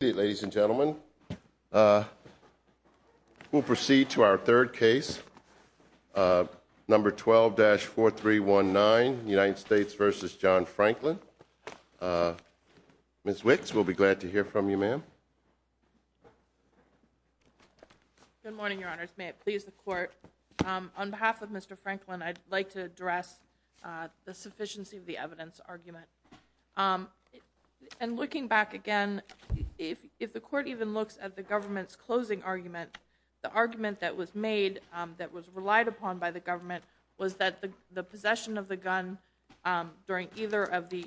Ladies and gentlemen, we'll proceed to our third case, number 12-4319, United States v. John Franklin. Ms. Wicks, we'll be glad to hear from you, ma'am. Good morning, Your Honors. May it please the Court, on behalf of Mr. Franklin, I'd like to address the sufficiency of the evidence argument. And looking back again, if the Court even looks at the government's closing argument, the argument that was made, that was relied upon by the government, was that the possession of the gun during either of the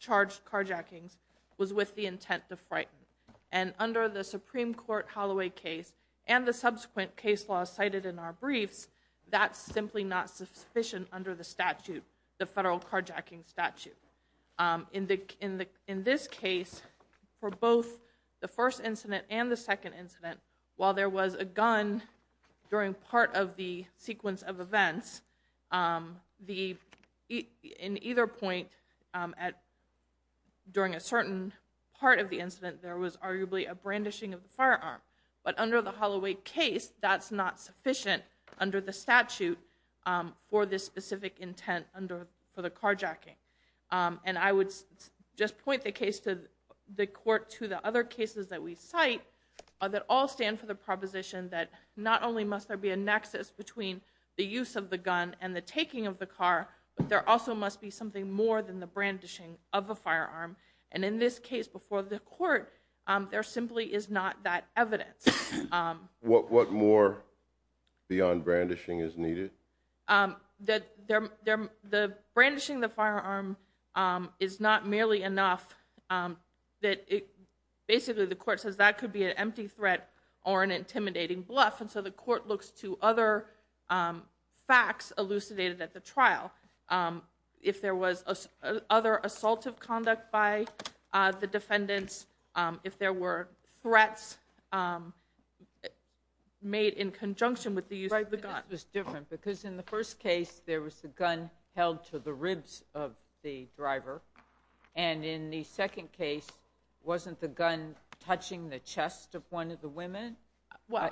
charged carjackings was with the intent to frighten. And under the Supreme Court Holloway case, and the subsequent case law cited in our briefs, that's simply not sufficient under the statute, the federal carjacking statute. In this case, for both the first incident and the second incident, while there was a gun during part of the sequence of events, in either point during a certain part of the incident, there was arguably a brandishing of the firearm. But under the Holloway case, that's not sufficient under the statute for this specific intent under, for the carjacking. And I would just point the case to the Court, to the other cases that we cite, that all stand for the proposition that not only must there be a nexus between the use of the gun and the taking of the car, but there also must be something more than the brandishing of a firearm. And in this case, before the Court, there simply is not that evidence. What more beyond brandishing is needed? That the brandishing of the firearm is not merely enough, that basically the Court says that could be an empty threat or an intimidating bluff. And so the Court looks to other facts elucidated at the trial. If there was other assaultive conduct by the defendants, if there were threats made in conjunction with the use of the gun. This was different, because in the first case, there was the gun held to the ribs of the driver. And in the second case, wasn't the gun touching the chest of one of the women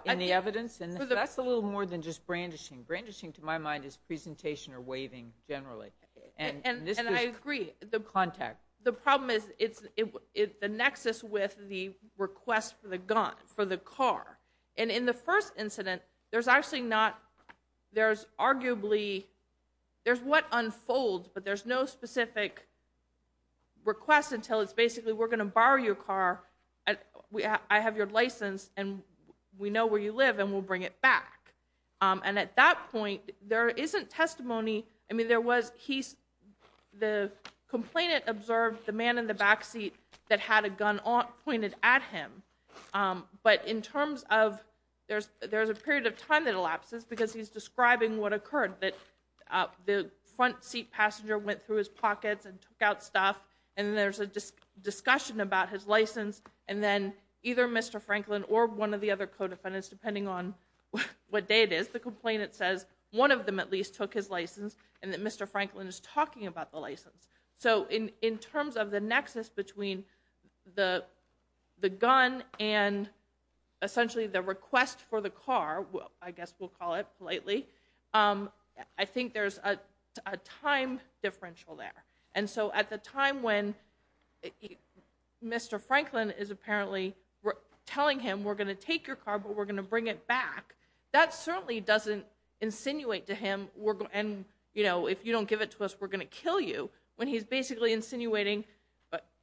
in the evidence? And that's a little more than just brandishing. Brandishing, to my mind, is presentation or waving, generally. And I agree, the problem is the nexus with the request for the gun, for the car. And in the first incident, there's actually not, there's arguably, there's what unfolds, but there's no specific request until it's basically, we're going to borrow your car, I have your license, and we know where you live, and we'll bring it back. And at that point, there isn't testimony. I mean, there was, the complainant observed the man in the backseat that had a gun pointed at him. But in terms of, there's a period of time that elapses, because he's describing what occurred, that the front seat passenger went through his pockets and took out stuff, and there's a discussion about his license, and then either Mr. Franklin or one of the other co-defendants, depending on what day it is, the complainant says, one of them at least took his license, and that Mr. Franklin is talking about the license. So in terms of the nexus between the gun and essentially the request for the car, I guess we'll call it politely, I think there's a time differential there. And so at the time when Mr. Franklin is apparently telling him, we're going to take your car, but we're going to bring it back, that certainly doesn't insinuate to him, and if you don't give it to us, we're going to kill you. When he's basically insinuating,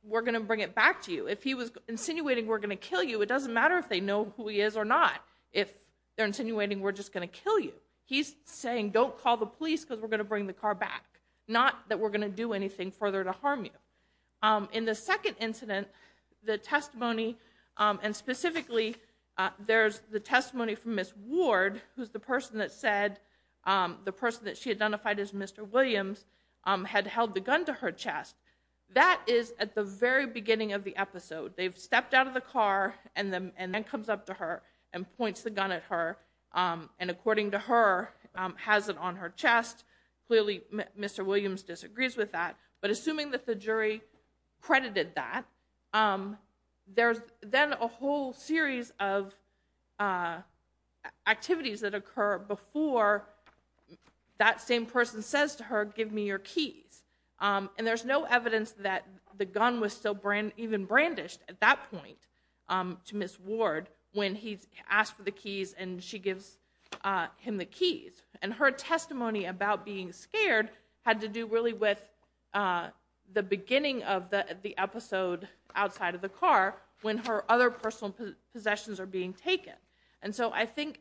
we're going to bring it back to you. If he was insinuating we're going to kill you, it doesn't matter if they know who he is or not. If they're insinuating we're just going to kill you, he's saying don't call the police because we're going to bring the car back, not that we're going to do anything further to harm you. In the second incident, the testimony, and specifically, there's the testimony from Ms. Ward, who's the person that said, the person that she identified as Mr. Williams, had held the gun to her chest. That is at the very beginning of the episode. They've stepped out of the car, and the man comes up to her and points the gun at her, and according to her, has it on her chest. Clearly, Mr. Williams disagrees with that. But assuming that the jury credited that, there's then a whole series of activities that occur before that same person says to her, give me your keys. And there's no evidence that the gun was even brandished at that point to Ms. Ward, when he asked for the keys and she gives him the keys. And her testimony about being scared had to do really with the beginning of the episode outside of the car, when her other personal possessions are being taken. And so I think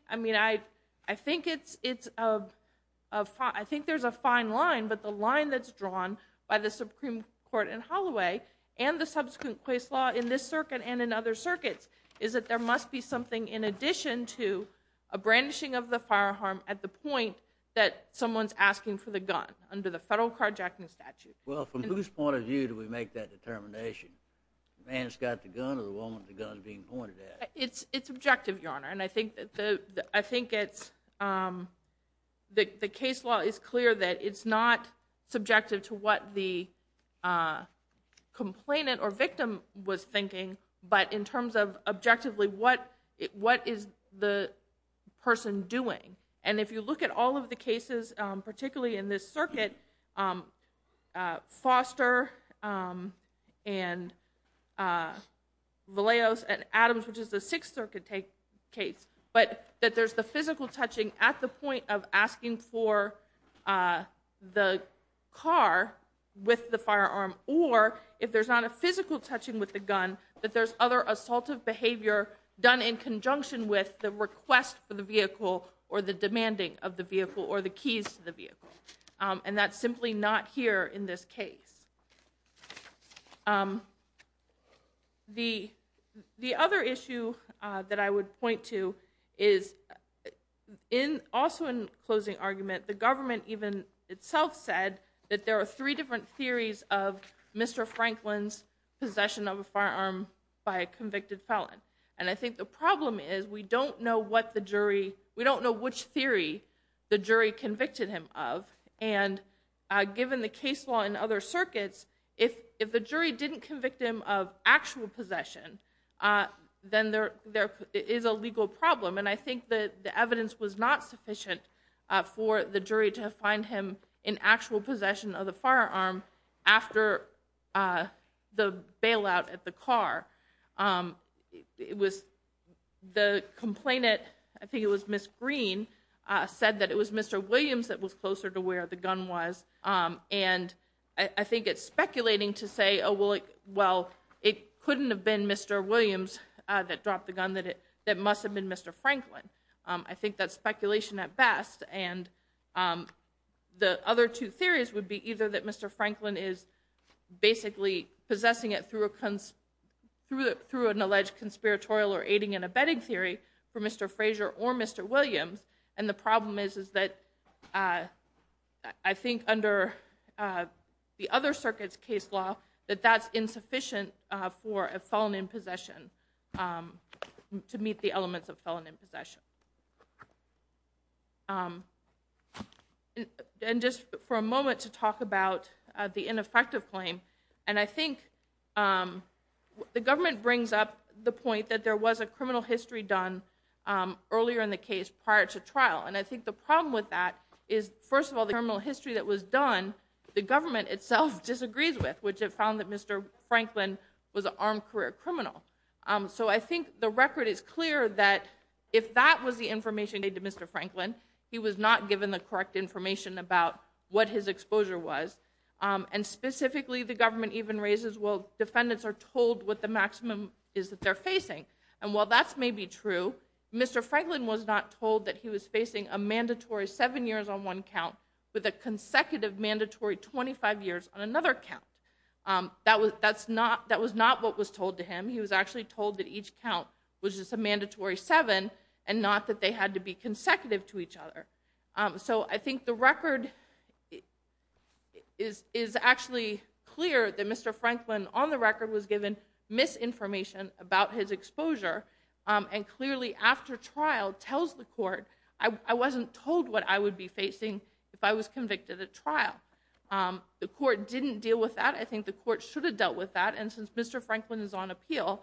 there's a fine line, but the line that's drawn by the Supreme Court in Holloway, and the subsequent Quays law in this circuit and in other circuits, is that there must be something in addition to a brandishing of the firearm at the point that someone's asking for the gun, under the federal carjacking statute. Well, from whose point of view do we make that determination? The man that's got the gun or the woman with the gun being pointed at? It's objective, Your Honor, and I think it's... The case law is clear that it's not subjective to what the complainant or victim was thinking, but in terms of objectively, what is the person doing? And if you look at all of the cases, particularly in this circuit, Foster and Valeos and Adams, which is the Sixth Circuit case, but that there's the physical touching at the point of asking for the car with the firearm, or if there's not a physical touching with the gun, that there's other assaultive behavior done in conjunction with the request for the vehicle or the demanding of the vehicle or the keys to the vehicle. And that's simply not here in this case. The other issue that I would point to is, also in closing argument, the government even itself said that there are three different theories of Mr. Franklin's possession of a firearm by a convicted felon. And I think the problem is we don't know what the jury... We don't know which theory the jury convicted him of. And given the case law in other circuits, if the jury didn't convict him of actual possession, then there is a legal problem. And I think that the evidence was not sufficient for the jury to find him in actual possession of the firearm after the bailout at the car. It was the complainant, I think it was Ms. Green, said that it was Mr. Williams that was closer to where the gun was. And I think it's speculating to say, oh, well, it couldn't have been Mr. Williams that dropped the gun, that it must have been Mr. Franklin. I think that's speculation at best. And the other two theories would be either that Mr. Franklin is basically possessing it through an alleged conspiratorial or aiding and abetting theory for Mr. Frazier or Mr. Williams. And the problem is, is that I think under the other circuit's case law, that that's insufficient for a felon in possession to meet the elements of felon in possession. And just for a moment to talk about the ineffective claim. And I think the government brings up the point that there was a criminal history done earlier in the case prior to trial. And I think the problem with that is, first of all, the criminal history that was done, the government itself disagrees with, which it found that Mr. Franklin was an armed career criminal. So I think the record is clear that if that was the information they did to Mr. Franklin, he was not given the correct information about what his exposure was. And specifically, the government even raises, well, defendants are told what the maximum is that they're facing. And while that's maybe true, Mr. Franklin was not told that he was facing a mandatory seven years on one count with a consecutive mandatory 25 years on another count. That was not what was told to him. He was actually told that each count was just a mandatory seven and not that they had to be consecutive to each other. So I think the record is actually clear that Mr. Franklin, on the record, was given misinformation about his exposure. And clearly, after trial, tells the court, I wasn't told what I would be facing if I was convicted at trial. The court didn't deal with that. I think the court should have dealt with that. And since Mr. Franklin is on appeal,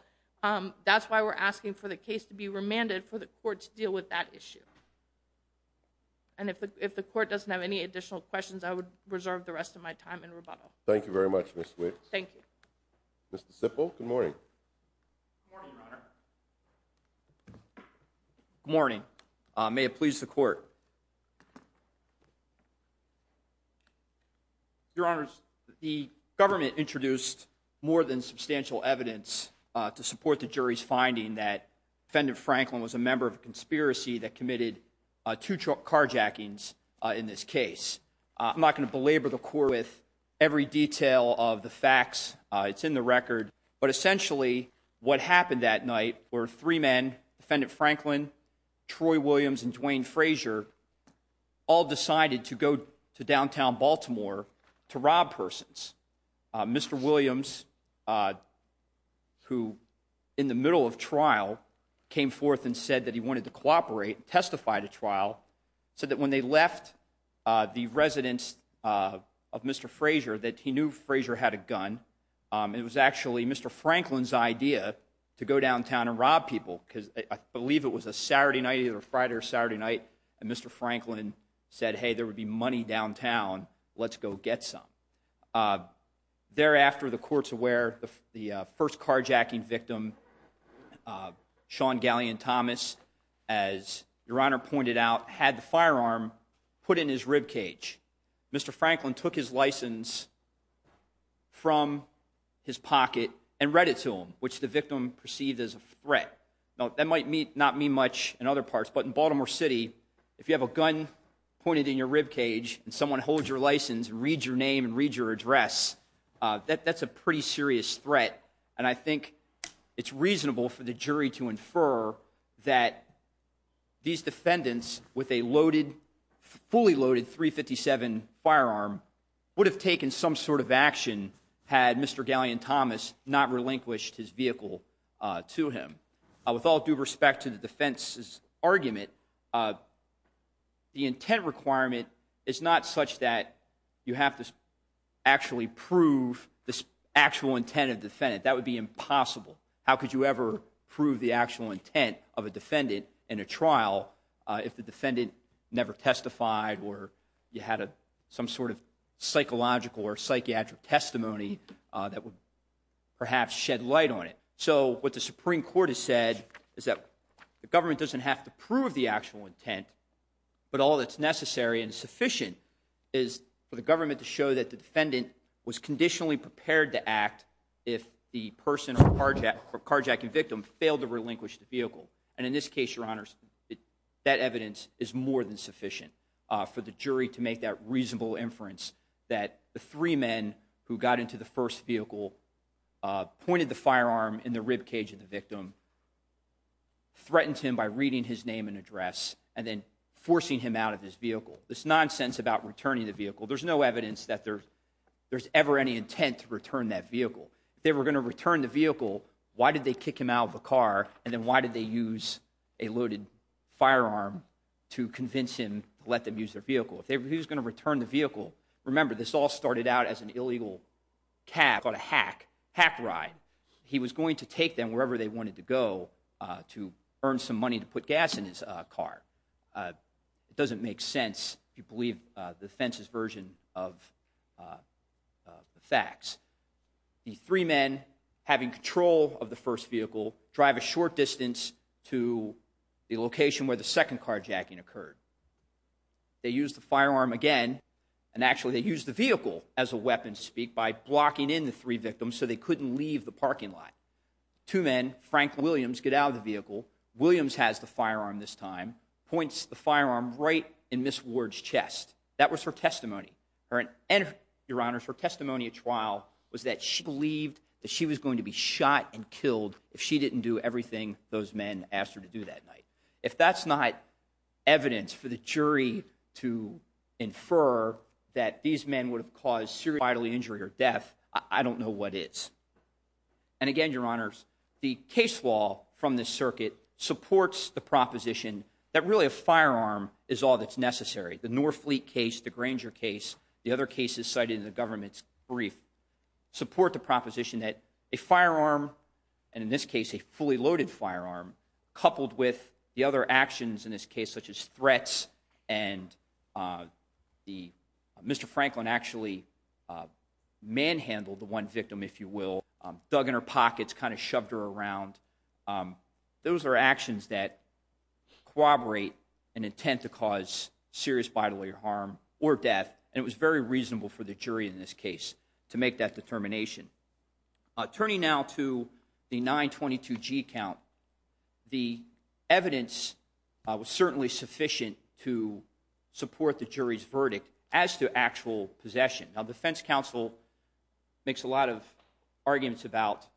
that's why we're asking for the case to be remanded, for the court to deal with that issue. And if the court doesn't have any additional questions, I would reserve the rest of my time in rebuttal. Thank you very much, Ms. Swift. Thank you. Mr. Sipple, good morning. Good morning, Your Honor. Good morning. May it please the court. Your Honors, the government introduced more than substantial evidence to support the jury's finding that Defendant Franklin was a member of a conspiracy that committed two carjackings in this case. I'm not going to belabor the court with every detail of the facts. It's in the record. But essentially, what happened that night were three men, Defendant Franklin, Troy Williams, and Dwayne Frazier, all decided to go to downtown Baltimore to rob persons. Mr. Williams, who, in the middle of trial, came forth and said that he wanted to cooperate, testified at trial, said that when they left the residence of Mr. Frazier, that he knew Frazier had a gun. It was actually Mr. Franklin's idea to go downtown and rob people, because I believe it was a Saturday night, either Friday or Saturday night, and Mr. Franklin said, hey, there would be money downtown. Let's go get some. Thereafter, the court's aware the first carjacking victim, Sean Gallion Thomas, as Your Honor pointed out, had the firearm put in his ribcage. Mr. Franklin took his license from his pocket and read it to him, which the victim perceived as a threat. That might not mean much in other parts, but in Baltimore City, if you have a gun pointed in your ribcage and someone holds your license and reads your name and reads your address, that's a pretty serious threat. And I think it's reasonable for the jury to infer that these defendants, with a fully loaded .357 firearm, would have taken some sort of action had Mr. Gallion Thomas not relinquished his vehicle to him. With all due respect to the defense's argument, the intent requirement is not such that you have to actually prove the actual intent of the defendant. That would be impossible. How could you ever prove the actual intent of a defendant in a trial if the defendant never testified or you had some sort of psychological or psychiatric testimony that would perhaps shed light on it? So what the Supreme Court has said is that the government doesn't have to prove the actual intent, but all that's necessary and sufficient is for the government to show that the defendant was conditionally prepared to act if the person or carjacking victim failed to relinquish the vehicle. And in this case, your honors, that evidence is more than sufficient for the jury to make that reasonable inference that the three men who got into the first vehicle, pointed the firearm in the ribcage of the victim, threatened him by reading his name and address, and then forcing him out of his vehicle. There's nonsense about returning the vehicle. There's no evidence that there's ever any intent to return that vehicle. If they were going to return the vehicle, why did they kick him out of the car? And then why did they use a loaded firearm to convince him to let them use their vehicle? If he was going to return the vehicle, remember this all started out as an illegal cab on a hack, hack ride. He was going to take them wherever they wanted to go to earn some money to put gas in his car. It doesn't make sense if you believe the defense's version of the facts. The three men, having control of the first vehicle, drive a short distance to the location where the second carjacking occurred. They used the firearm again, and actually they used the vehicle as a weapon to speak, by blocking in the three victims so they couldn't leave the parking lot. Two men, Frank Williams, get out of the vehicle. Williams has the firearm this time, points the firearm right in Ms. Ward's chest. That was her testimony. And your honors, her testimony at trial was that she believed that she was going to be shot and killed if she didn't do everything those men asked her to do that night. If that's not evidence for the jury to infer that these men would have caused serious bodily injury or death, I don't know what is. And again, your honors, the case law from the circuit supports the proposition that really a firearm is all that's necessary. The Norfleet case, the Granger case, the other cases cited in the government's brief support the proposition that a firearm, and in this case, a fully loaded firearm, coupled with the other actions in this case, such as threats. And Mr. Franklin actually manhandled the one victim, if you will, dug in her pockets, kind of shoved her around. Those are actions that corroborate an intent to cause serious bodily harm or death. And it was very reasonable for the jury in this case to make that determination. Turning now to the 922G count, the evidence was certainly sufficient to support the jury's verdict as to actual possession. Now, defense counsel makes a lot of arguments about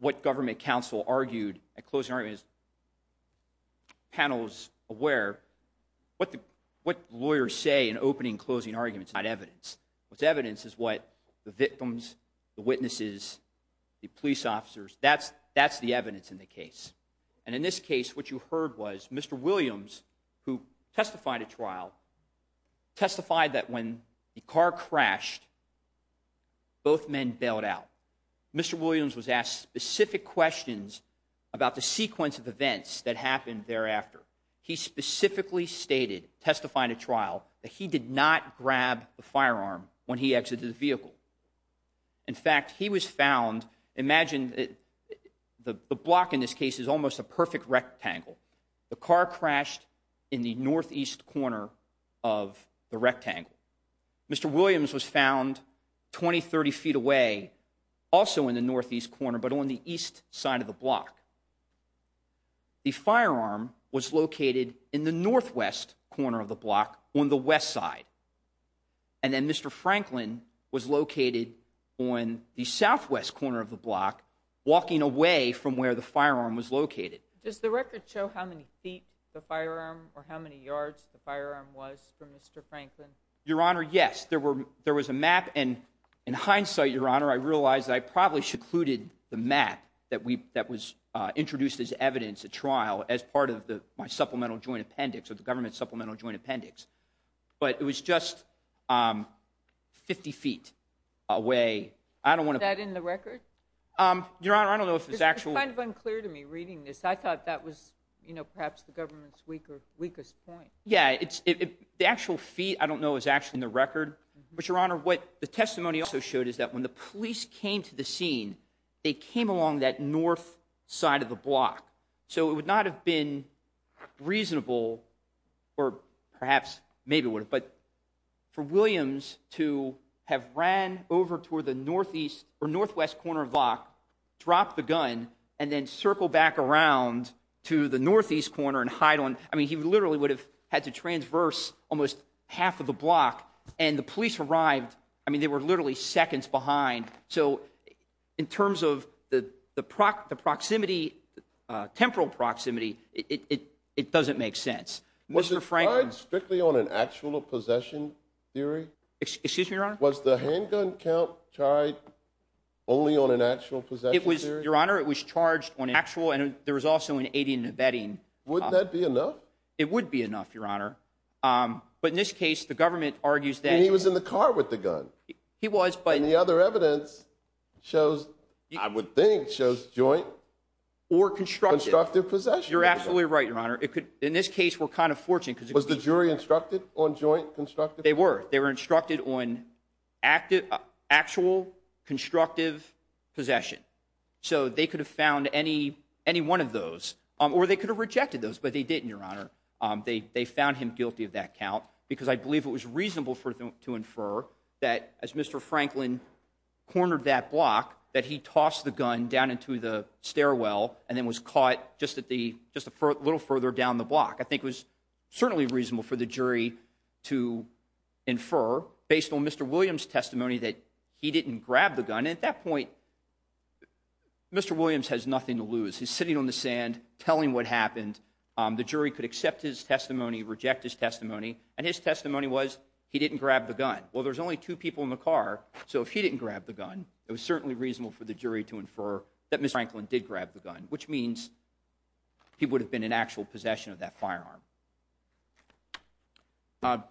what government counsel argued at closing arguments, panels aware. What lawyers say in opening and closing arguments is not evidence. What's evidence is what the victims, the witnesses, the police officers, that's the evidence in the case. And in this case, what you heard was Mr. Williams, who testified at trial, testified that when the car crashed, both men bailed out. Mr. Williams was asked specific questions about the sequence of events that happened thereafter. He specifically stated, testified at trial, that he did not grab the firearm when he exited the vehicle. In fact, he was found, imagine the block in this case is almost a perfect rectangle. The car crashed in the northeast corner of the rectangle. Mr. Williams was found 20, 30 feet away, also in the northeast corner, but on the east side of the block. The firearm was located in the northwest corner of the block on the west side. And then Mr. Franklin was located on the southwest corner of the block, walking away from where the firearm was located. Does the record show how many feet the firearm, or how many yards the firearm was from Mr. Franklin? Your Honor, yes, there was a map, and in hindsight, Your Honor, I realized that I probably secluded the map that was introduced as evidence at trial as part of my supplemental joint appendix, or the government supplemental joint appendix. But it was just 50 feet away. I don't wanna- Is that in the record? Your Honor, I don't know if it's actual- It's kind of unclear to me reading this. I thought that was perhaps the government's weakest point. Yeah, the actual feet, I don't know, is actually in the record. But Your Honor, what the testimony also showed is that when the police came to the scene, they came along that north side of the block. So it would not have been reasonable, or perhaps maybe would have, but for Williams to have ran over toward the northeast or northwest corner of the block, drop the gun, and then circle back around to the northeast corner and hide on. I mean, he literally would have had to transverse almost half of the block. And the police arrived, I mean, they were literally seconds behind. So in terms of the temporal proximity, it doesn't make sense. Mr. Franklin- Was it tied strictly on an actual possession theory? Excuse me, Your Honor? Was the handgun count tied only on an actual possession theory? Your Honor, it was charged on an actual, and there was also an aiding and abetting. Wouldn't that be enough? It would be enough, Your Honor. But in this case, the government argues that- And he was in the car with the gun. He was, but- And the other evidence shows, I would think, shows joint or constructive possession. You're absolutely right, Your Honor. In this case, we're kind of fortunate because- Was the jury instructed on joint actual constructive possession? So they could have found any one of those, or they could have rejected those, but they didn't, Your Honor. They found him guilty of that count, because I believe it was reasonable to infer that as Mr. Franklin cornered that block, that he tossed the gun down into the stairwell and then was caught just a little further down the block. I think it was certainly reasonable for the jury to infer, based on Mr. Williams' testimony, that he didn't grab the gun. At that point, Mr. Williams has nothing to lose. He's sitting on the sand telling what happened. The jury could accept his testimony, reject his testimony, and his testimony was he didn't grab the gun. Well, there's only two people in the car, so if he didn't grab the gun, it was certainly reasonable for the jury to infer that Mr. Franklin did grab the gun, which means he would have been in actual possession of that firearm.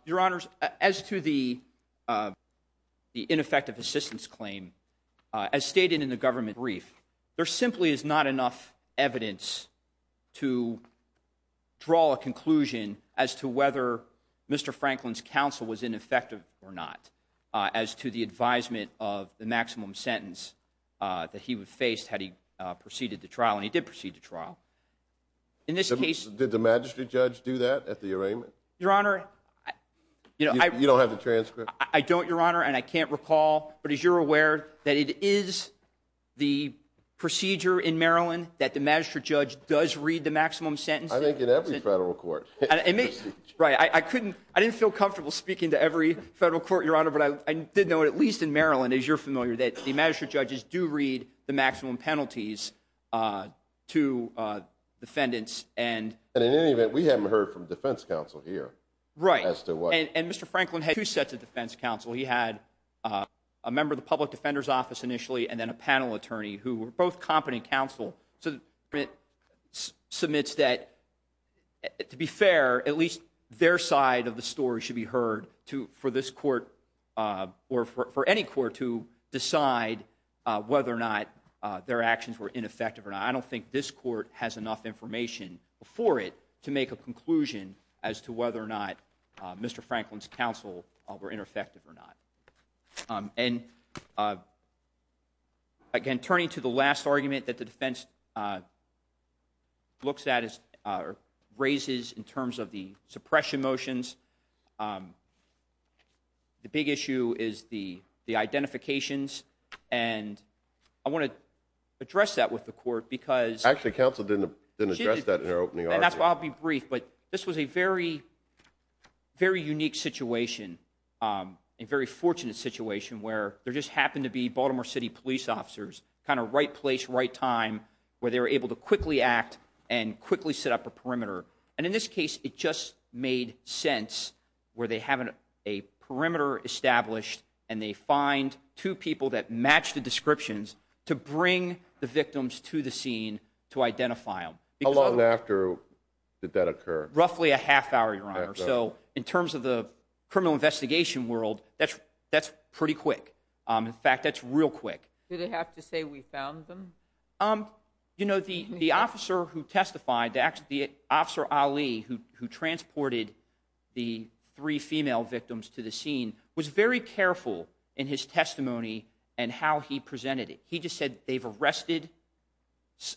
Your Honors, as to the ineffective assistance claim, as stated in the government brief, there simply is not enough evidence to draw a conclusion as to whether Mr. Franklin's counsel was ineffective or not as to the advisement of the maximum sentence that he would face had he proceeded the trial, and he did proceed the trial. In this case- Did the magistrate judge do that at the arraignment? Your Honor, I- You don't have the transcript? I don't, Your Honor, and I can't recall, but as you're aware, that it is the procedure in Maryland that the magistrate judge does read the maximum sentence- I think in every federal court. Right, I didn't feel comfortable speaking to every federal court, Your Honor, but I did know, at least in Maryland, as you're familiar, that the magistrate judges do read the maximum penalties to defendants and- And in any event, we haven't heard from defense counsel here as to what- Right, and Mr. Franklin had two sets of defense counsel. He had a member of the public defender's office initially, and then a panel attorney, who were both competent counsel. So, it submits that, to be fair, at least their side of the story should be heard for this court, or for any court, to decide whether or not their actions were ineffective or not. And I don't think this court has enough information before it to make a conclusion as to whether or not Mr. Franklin's counsel were ineffective or not. And again, turning to the last argument that the defense looks at, or raises, in terms of the suppression motions, the big issue is the identifications. And I want to address that with the court, because- Actually, counsel didn't address that in her opening argument. And that's why I'll be brief, but this was a very, very unique situation, a very fortunate situation, where there just happened to be Baltimore City police officers, kind of right place, right time, where they were able to quickly act and quickly set up a perimeter. And in this case, it just made sense, where they have a perimeter established, and they find two people that match the descriptions to bring the victims to the scene to identify them. How long after did that occur? Roughly a half hour, Your Honor. So in terms of the criminal investigation world, that's pretty quick. In fact, that's real quick. Did they have to say, we found them? The officer who testified, the officer Ali who transported the three female victims to the scene, was very careful in his testimony and how he presented it. He just said, they've arrested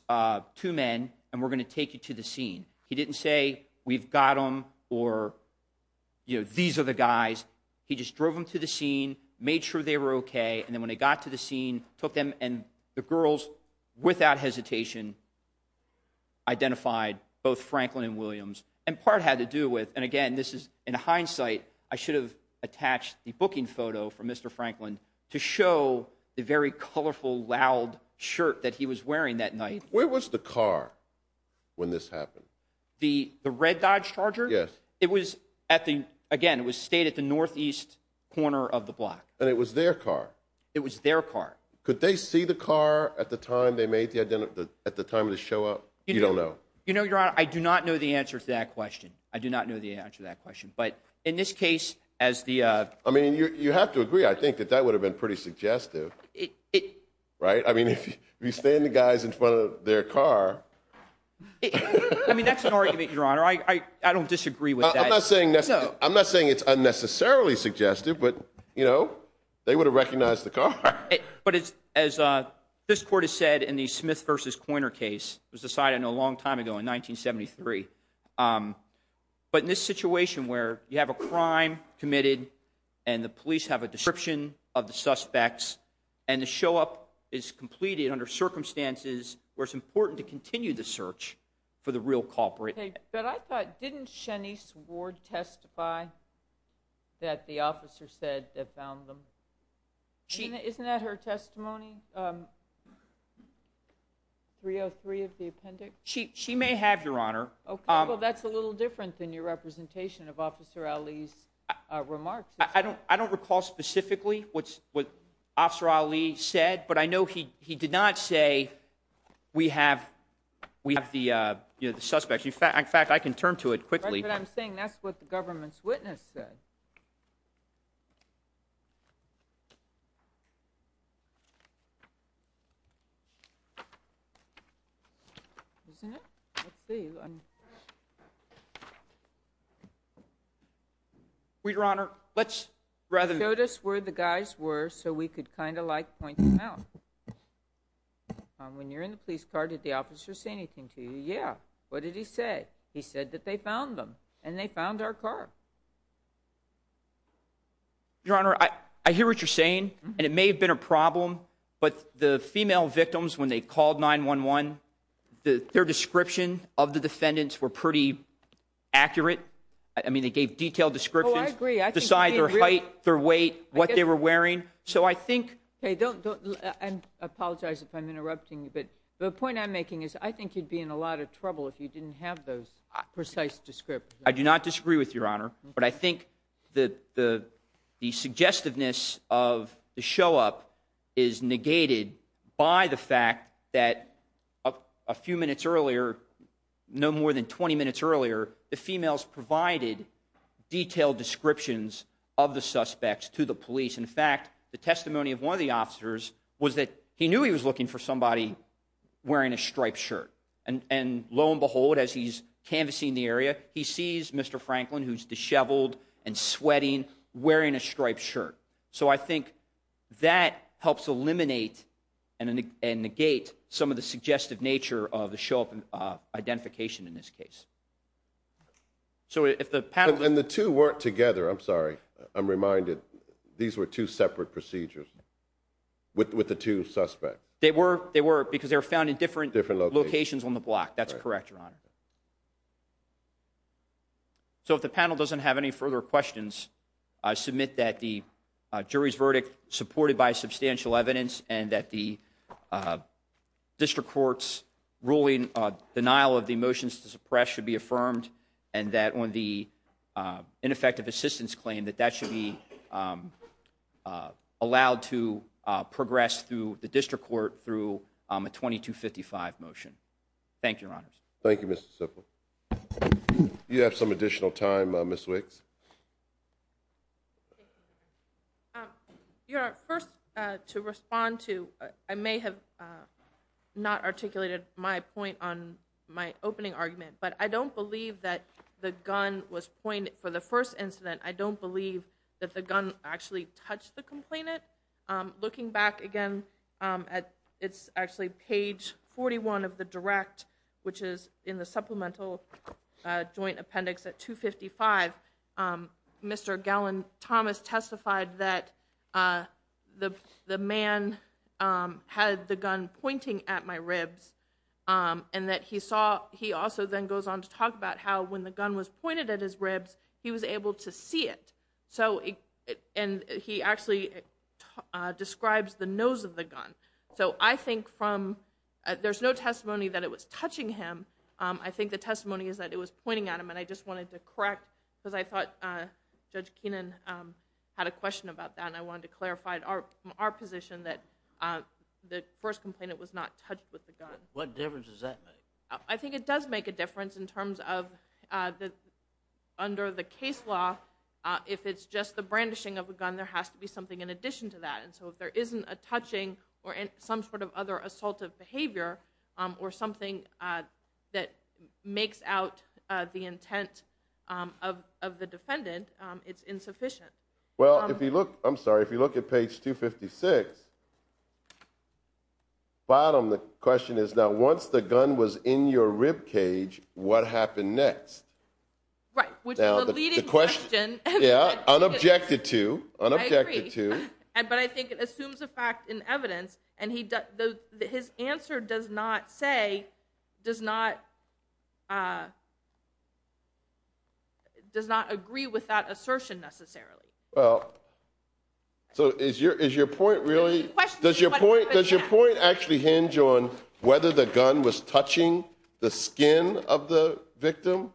two men, and we're going to take you to the scene. He didn't say, we've got them, or these are the guys. He just drove them to the scene, made sure they were okay, and then when they got to the scene, took them. And the girls, without hesitation, identified both Franklin and again, this is in hindsight, I should have attached the booking photo for Mr. Franklin to show the very colorful, loud shirt that he was wearing that night. Where was the car when this happened? The red Dodge Charger? Yes. It was at the, again, it was stayed at the northeast corner of the block. And it was their car? It was their car. Could they see the car at the time they made the, at the time of the show up? You don't know. You know, Your Honor, I do not know the answer to that question. I do not know the answer to that question. But in this case, as the- I mean, you have to agree, I think, that that would have been pretty suggestive. Right? I mean, if you stand the guys in front of their car. I mean, that's an argument, Your Honor. I don't disagree with that. I'm not saying it's unnecessarily suggestive, but you know, they would have recognized the car. But as this court has said in the Smith versus Coyner case, it was decided a long time ago in 1973. But in this situation where you have a crime committed, and the police have a description of the suspects, and the show up is completed under circumstances where it's important to continue the search for the real culprit. But I thought, didn't Shenise Ward testify that the officer said they found them? She- Isn't that her testimony, 303 of the appendix? She may have, Your Honor. Okay, well, that's a little different than your representation of Officer Ali's remarks. I don't recall specifically what Officer Ali said, but I know he did not say we have the suspects. In fact, I can turn to it quickly. Right, but I'm saying that's what the government's witness said. Isn't it? Let's see. We, Your Honor, let's rather- He showed us where the guys were, so we could kind of like point them out. When you're in the police car, did the officer say anything to you? Yeah. What did he say? He said that they found them, and they found our car. Your Honor, I hear what you're saying, and it may have been a problem, but the female victims, when they called 911, their description of the defendants were pretty accurate. I mean, they gave detailed descriptions- Oh, I agree, I think you're being real- To decide their height, their weight, what they were wearing, so I think- Okay, don't, I apologize if I'm interrupting you, but the point I'm making is, I think you'd be in a lot of trouble if you didn't have those precise descriptions. I do not disagree with Your Honor. But I think the suggestiveness of the show-up is negated by the fact that a few minutes earlier, no more than 20 minutes earlier, the females provided detailed descriptions of the suspects to the police. In fact, the testimony of one of the officers was that he knew he was looking for somebody wearing a striped shirt. He sees Mr. Franklin, who's disheveled and sweating, wearing a striped shirt. So I think that helps eliminate and negate some of the suggestive nature of the show-up identification in this case. So if the panel- And the two weren't together, I'm sorry, I'm reminded these were two separate procedures with the two suspects. They were, because they were found in different locations on the block. That's correct, Your Honor. So if the panel doesn't have any further questions, I submit that the jury's verdict supported by substantial evidence and that the district court's ruling, denial of the motions to suppress should be affirmed, and that on the ineffective assistance claim, that that should be allowed to progress through the district court through a 2255 motion. Thank you, Your Honors. Thank you, Mr. Sifu. Do you have some additional time, Ms. Wicks? Your Honor, first, to respond to, I may have not articulated my point on my opening argument, but I don't believe that the gun was pointed, for the first incident, I don't believe that the gun actually touched the complainant. Looking back again, it's actually page 41 of the direct, which is in the supplemental joint appendix at 255. Mr. Gallin-Thomas testified that the man had the gun pointing at my ribs, and that he saw, he also then goes on to talk about how when the gun was pointed at his ribs, he was able to see it. So, and he actually describes the nose of the gun. So, I think from, there's no testimony that it was touching him. I think the testimony is that it was pointing at him, and I just wanted to correct, because I thought Judge Keenan had a question about that, and I wanted to clarify our position that the first complainant was not touched with the gun. What difference does that make? I think it does make a difference in terms of under the case law, if it's just the brandishing of a gun, there has to be something in addition to that, and so if there isn't a touching or some sort of other assaultive behavior or something that makes out the intent of the defendant, it's insufficient. Well, if you look, I'm sorry, if you look at page 256, bottom of the question is, now once the gun was in your rib cage, what happened next? Right, which is a leading question. Yeah, unobjected to, unobjected to. I agree. But I think it assumes a fact in evidence, and his answer does not say, does not agree with that assertion necessarily. Well, so is your point really, does your point actually hinge on whether the gun was touching the skin of the victim?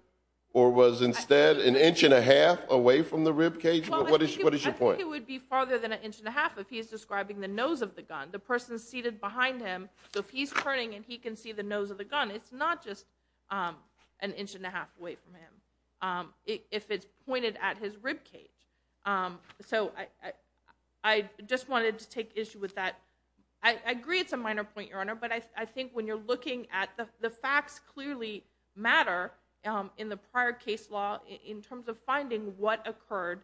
Or was instead an inch and a half away from the rib cage? What is your point? I think it would be farther than an inch and a half if he's describing the nose of the gun, the person seated behind him. So if he's turning and he can see the nose of the gun, it's not just an inch and a half away from him, if it's pointed at his rib cage. So I just wanted to take issue with that. I agree it's a minor point, Your Honor, but I think when you're looking at, the facts clearly matter in the prior case law in terms of finding what occurred.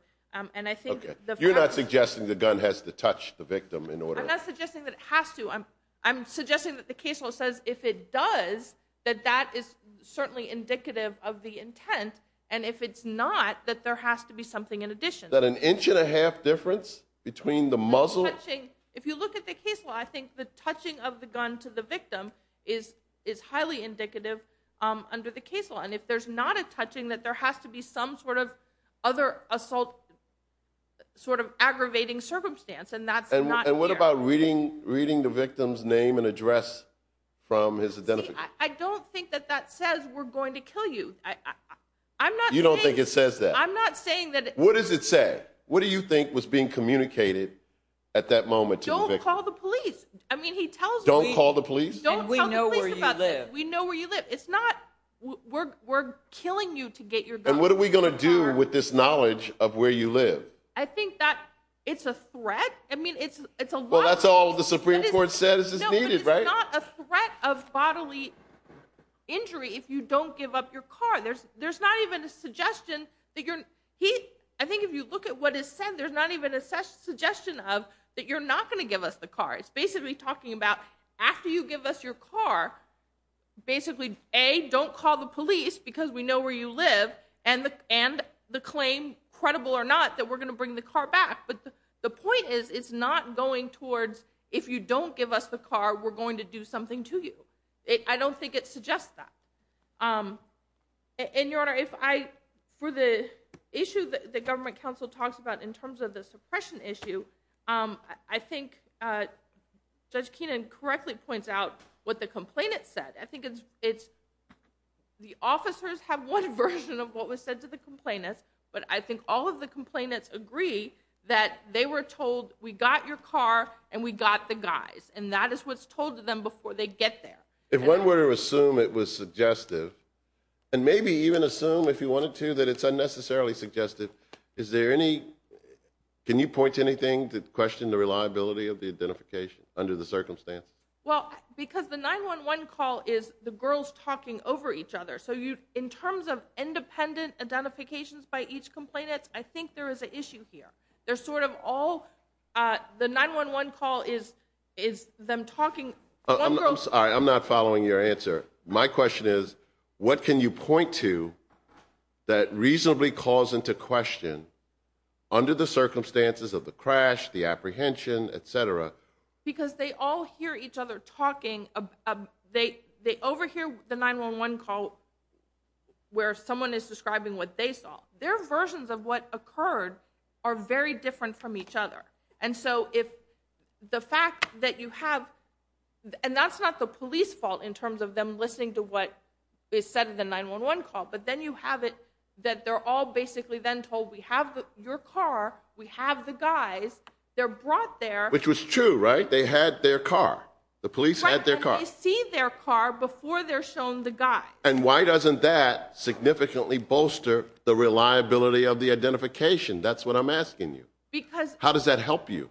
And I think the facts- You're not suggesting the gun has to touch the victim in order- I'm not suggesting that it has to. I'm suggesting that the case law says if it does, that that is certainly indicative of the intent. And if it's not, that there has to be something in addition. That an inch and a half difference between the muzzle? If you look at the case law, I think the touching of the gun to the victim is highly indicative under the case law. And if there's not a touching, then I'm not suggesting that there has to be some sort of other assault, sort of aggravating circumstance, and that's not- And what about reading the victim's name and address from his identification? I don't think that that says, we're going to kill you. I'm not saying- You don't think it says that? I'm not saying that- What does it say? What do you think was being communicated at that moment to the victim? Don't call the police. I mean, he tells me- Don't call the police? Don't tell the police about that. We know where you live. It's not, we're killing you to get your gun. And what are we going to do with this knowledge of where you live? I think that it's a threat. I mean, it's a lot- Well, that's all the Supreme Court said is needed, right? No, but it's not a threat of bodily injury if you don't give up your car. There's not even a suggestion that you're- I think if you look at what is said, there's not even a suggestion of that you're not going to give us the car. It's basically talking about, after you give us your car, basically, A, don't call the police because we know where you live, and the claim, credible or not, that we're going to bring the car back. But the point is, it's not going towards, if you don't give us the car, we're going to do something to you. I don't think it suggests that. And, Your Honor, for the issue that the government council talks about in terms of the suppression issue, I think Judge Keenan correctly points out what the complainant said. I think it's, the officers have one version of what was said to the complainants, but I think all of the complainants agree that they were told, we got your car, and we got the guys. And that is what's told to them before they get there. If one were to assume it was suggestive, and maybe even assume, if you wanted to, that it's unnecessarily suggestive, is there any, can you point to anything to question the reliability of the identification under the circumstance? Well, because the 911 call is the girls talking over each other. So you, in terms of independent identifications by each complainant, I think there is an issue here. They're sort of all, the 911 call is them talking. I'm sorry, I'm not following your answer. My question is, what can you point to that reasonably calls into question under the circumstances of the crash, the apprehension, etc.? Because they all hear each other talking. They overhear the 911 call where someone is describing what they saw. Their versions of what occurred are very different from each other. And so if the fact that you have, and that's not the police fault in terms of them listening to what is said in the 911 call. But then you have it that they're all basically then told, we have your car, we have the guys, they're brought there. Which was true, right? They had their car. The police had their car. Right, and they see their car before they're shown the guy. And why doesn't that significantly bolster the reliability of the identification? That's what I'm asking you. Because- How does that help you?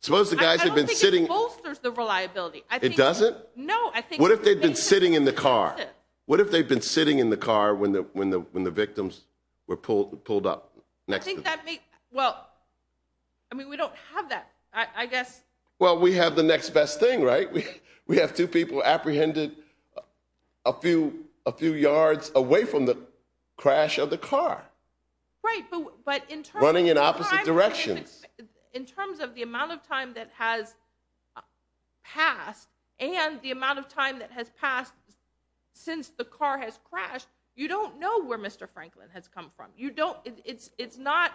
Suppose the guys have been sitting- I don't think it bolsters the reliability. It doesn't? No, I think- What if they've been sitting in the car? What if they've been sitting in the car when the victims were pulled up next to them? Well, I mean, we don't have that, I guess. Well, we have the next best thing, right? We have two people apprehended a few yards away from the crash of the car. Right, but in terms of- Running in opposite directions. In terms of the amount of time that has passed, and the amount of time that has passed since the car has crashed, you don't know where Mr. Franklin has come from. You don't, it's not,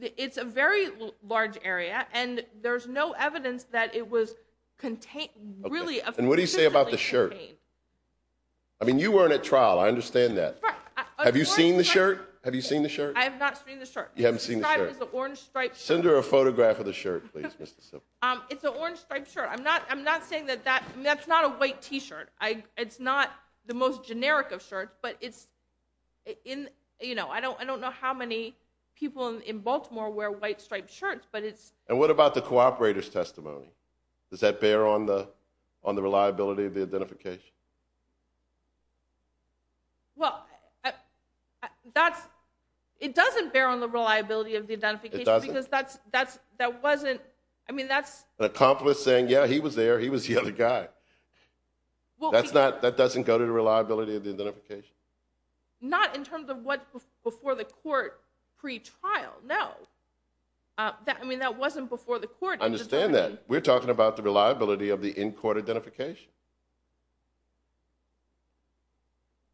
it's a very large area, and there's no evidence that it was contained, really officially contained. And what do you say about the shirt? I mean, you weren't at trial, I understand that. Have you seen the shirt? Have you seen the shirt? I have not seen the shirt. You haven't seen the shirt. It's a orange striped shirt. Send her a photograph of the shirt, please, Mr. Silver. It's a orange striped shirt. I'm not saying that that, that's not a white t-shirt. It's not the most generic of shirts, but it's in, I don't know how many people in Baltimore wear white striped shirts, but it's- And what about the cooperator's testimony? Does that bear on the reliability of the identification? Well, it doesn't bear on the reliability of the identification because that wasn't. I mean, that's- An accomplice saying, yeah, he was there, he was the other guy. That doesn't go to the reliability of the identification? Not in terms of what's before the court pre-trial, no. I mean, that wasn't before the court. I understand that. We're talking about the reliability of the in-court identification.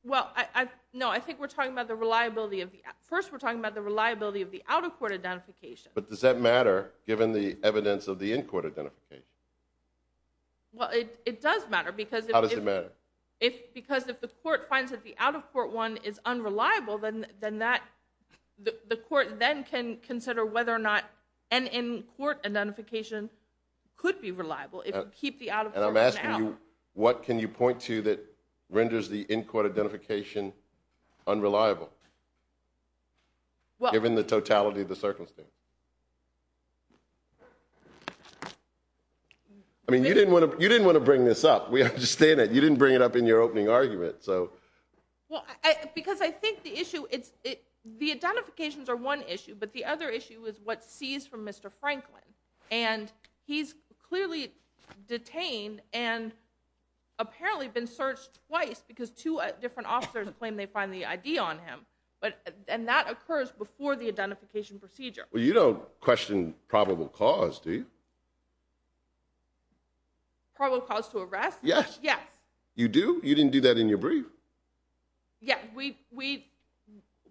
Well, I, I, no, I think we're talking about the reliability of the, first we're talking about the reliability of the out-of-court identification. But does that matter, given the evidence of the in-court identification? Well, it, it does matter because if- How does it matter? If, because if the court finds that the out-of-court one is unreliable, then, then that, the, the court then can consider whether or not an in-court identification could be reliable if you keep the out-of-court one out. And I'm asking you, what can you point to that renders the in-court identification unreliable, given the totality of the circumstance? I mean, you didn't wanna, you didn't wanna bring this up. We understand that. You didn't bring it up in your opening argument, so. Well, I, I, because I think the issue, it's, it, the identifications are one issue, but the other issue is what's seized from Mr. Franklin. And he's clearly detained, and apparently been searched twice, because two different officers claim they find the ID on him. But, and that occurs before the identification procedure. Well, you don't question probable cause, do you? Probable cause to arrest? Yes. Yes. You do? You didn't do that in your brief? Yeah, we, we,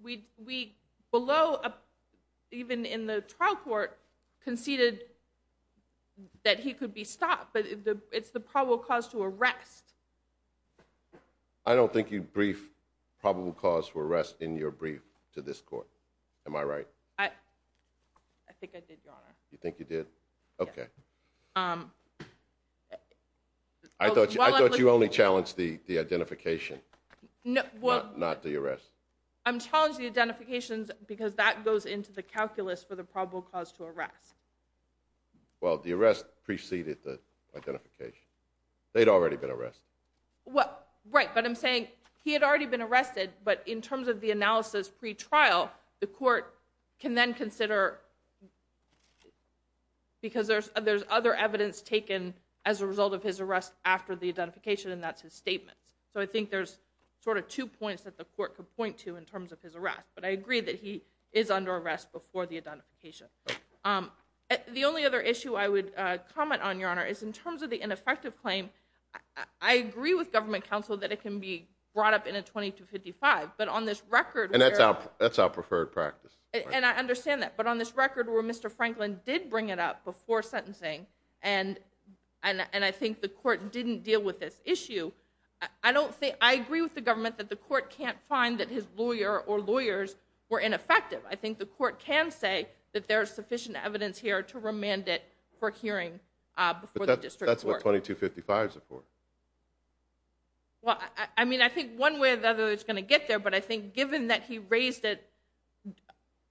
we, we, below, even in the trial court, conceded that he could be stopped, but it's the probable cause to arrest. I don't think you briefed probable cause for arrest in your brief to this court. Am I right? I, I think I did, your honor. You think you did? Okay. I thought, I thought you only challenged the, the identification. No, well. Not the arrest. I'm challenging the identifications, because that goes into the calculus for the probable cause to arrest. Well, the arrest preceded the identification. They'd already been arrested. Well, right, but I'm saying, he had already been arrested, but in terms of the analysis pre-trial, the court can then consider. Because there's, there's other evidence taken as a result of his arrest after the identification, and that's his statement. So I think there's sort of two points that the court could point to in terms of his arrest, but I agree that he is under arrest before the identification. The only other issue I would comment on, your honor, is in terms of the ineffective claim. I agree with government counsel that it can be brought up in a 2255, but on this record- And that's our, that's our preferred practice. And I understand that, but on this record where Mr. Franklin did bring it up before sentencing, and, and, and I think the court didn't deal with this issue. I don't think, I agree with the government that the court can't find that his lawyer or lawyers were ineffective. I think the court can say that there's sufficient evidence here to remand it for hearing before the district court. That's what 2255 is for. Well, I, I mean, I think one way or the other it's gonna get there, but I think given that he raised it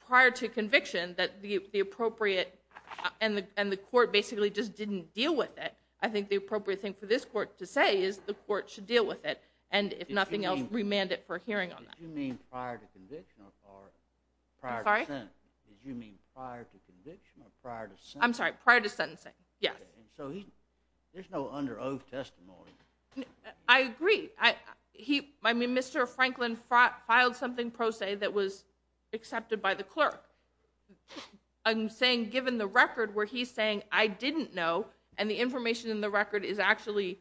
prior to conviction, that the appropriate, and the, and the court basically just didn't deal with it. I think the appropriate thing for this court to say is the court should deal with it. And if nothing else, remand it for hearing on that. Did you mean prior to conviction or prior to sentencing? I'm sorry? Did you mean prior to conviction or prior to sentencing? I'm sorry, prior to sentencing, yes. Okay, and so he, there's no under oath testimony. I agree, I, he, I mean, Mr. Franklin filed something pro se that was accepted by the clerk. I'm saying given the record where he's saying I didn't know, and the information in the record is actually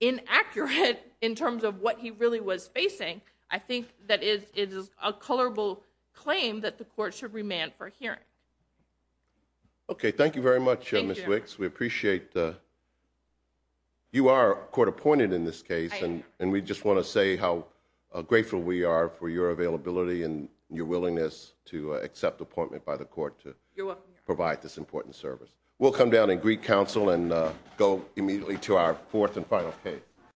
inaccurate in terms of what he really was facing, I think that it, it is a colorable claim that the court should remand for hearing. Okay, thank you very much, Ms. Wicks. We appreciate the, you are court appointed in this case, and, and we just want to say how grateful we are for your availability and your willingness to accept appointment by the court to provide this important service. We'll come down and greet counsel and go immediately to our fourth and final case.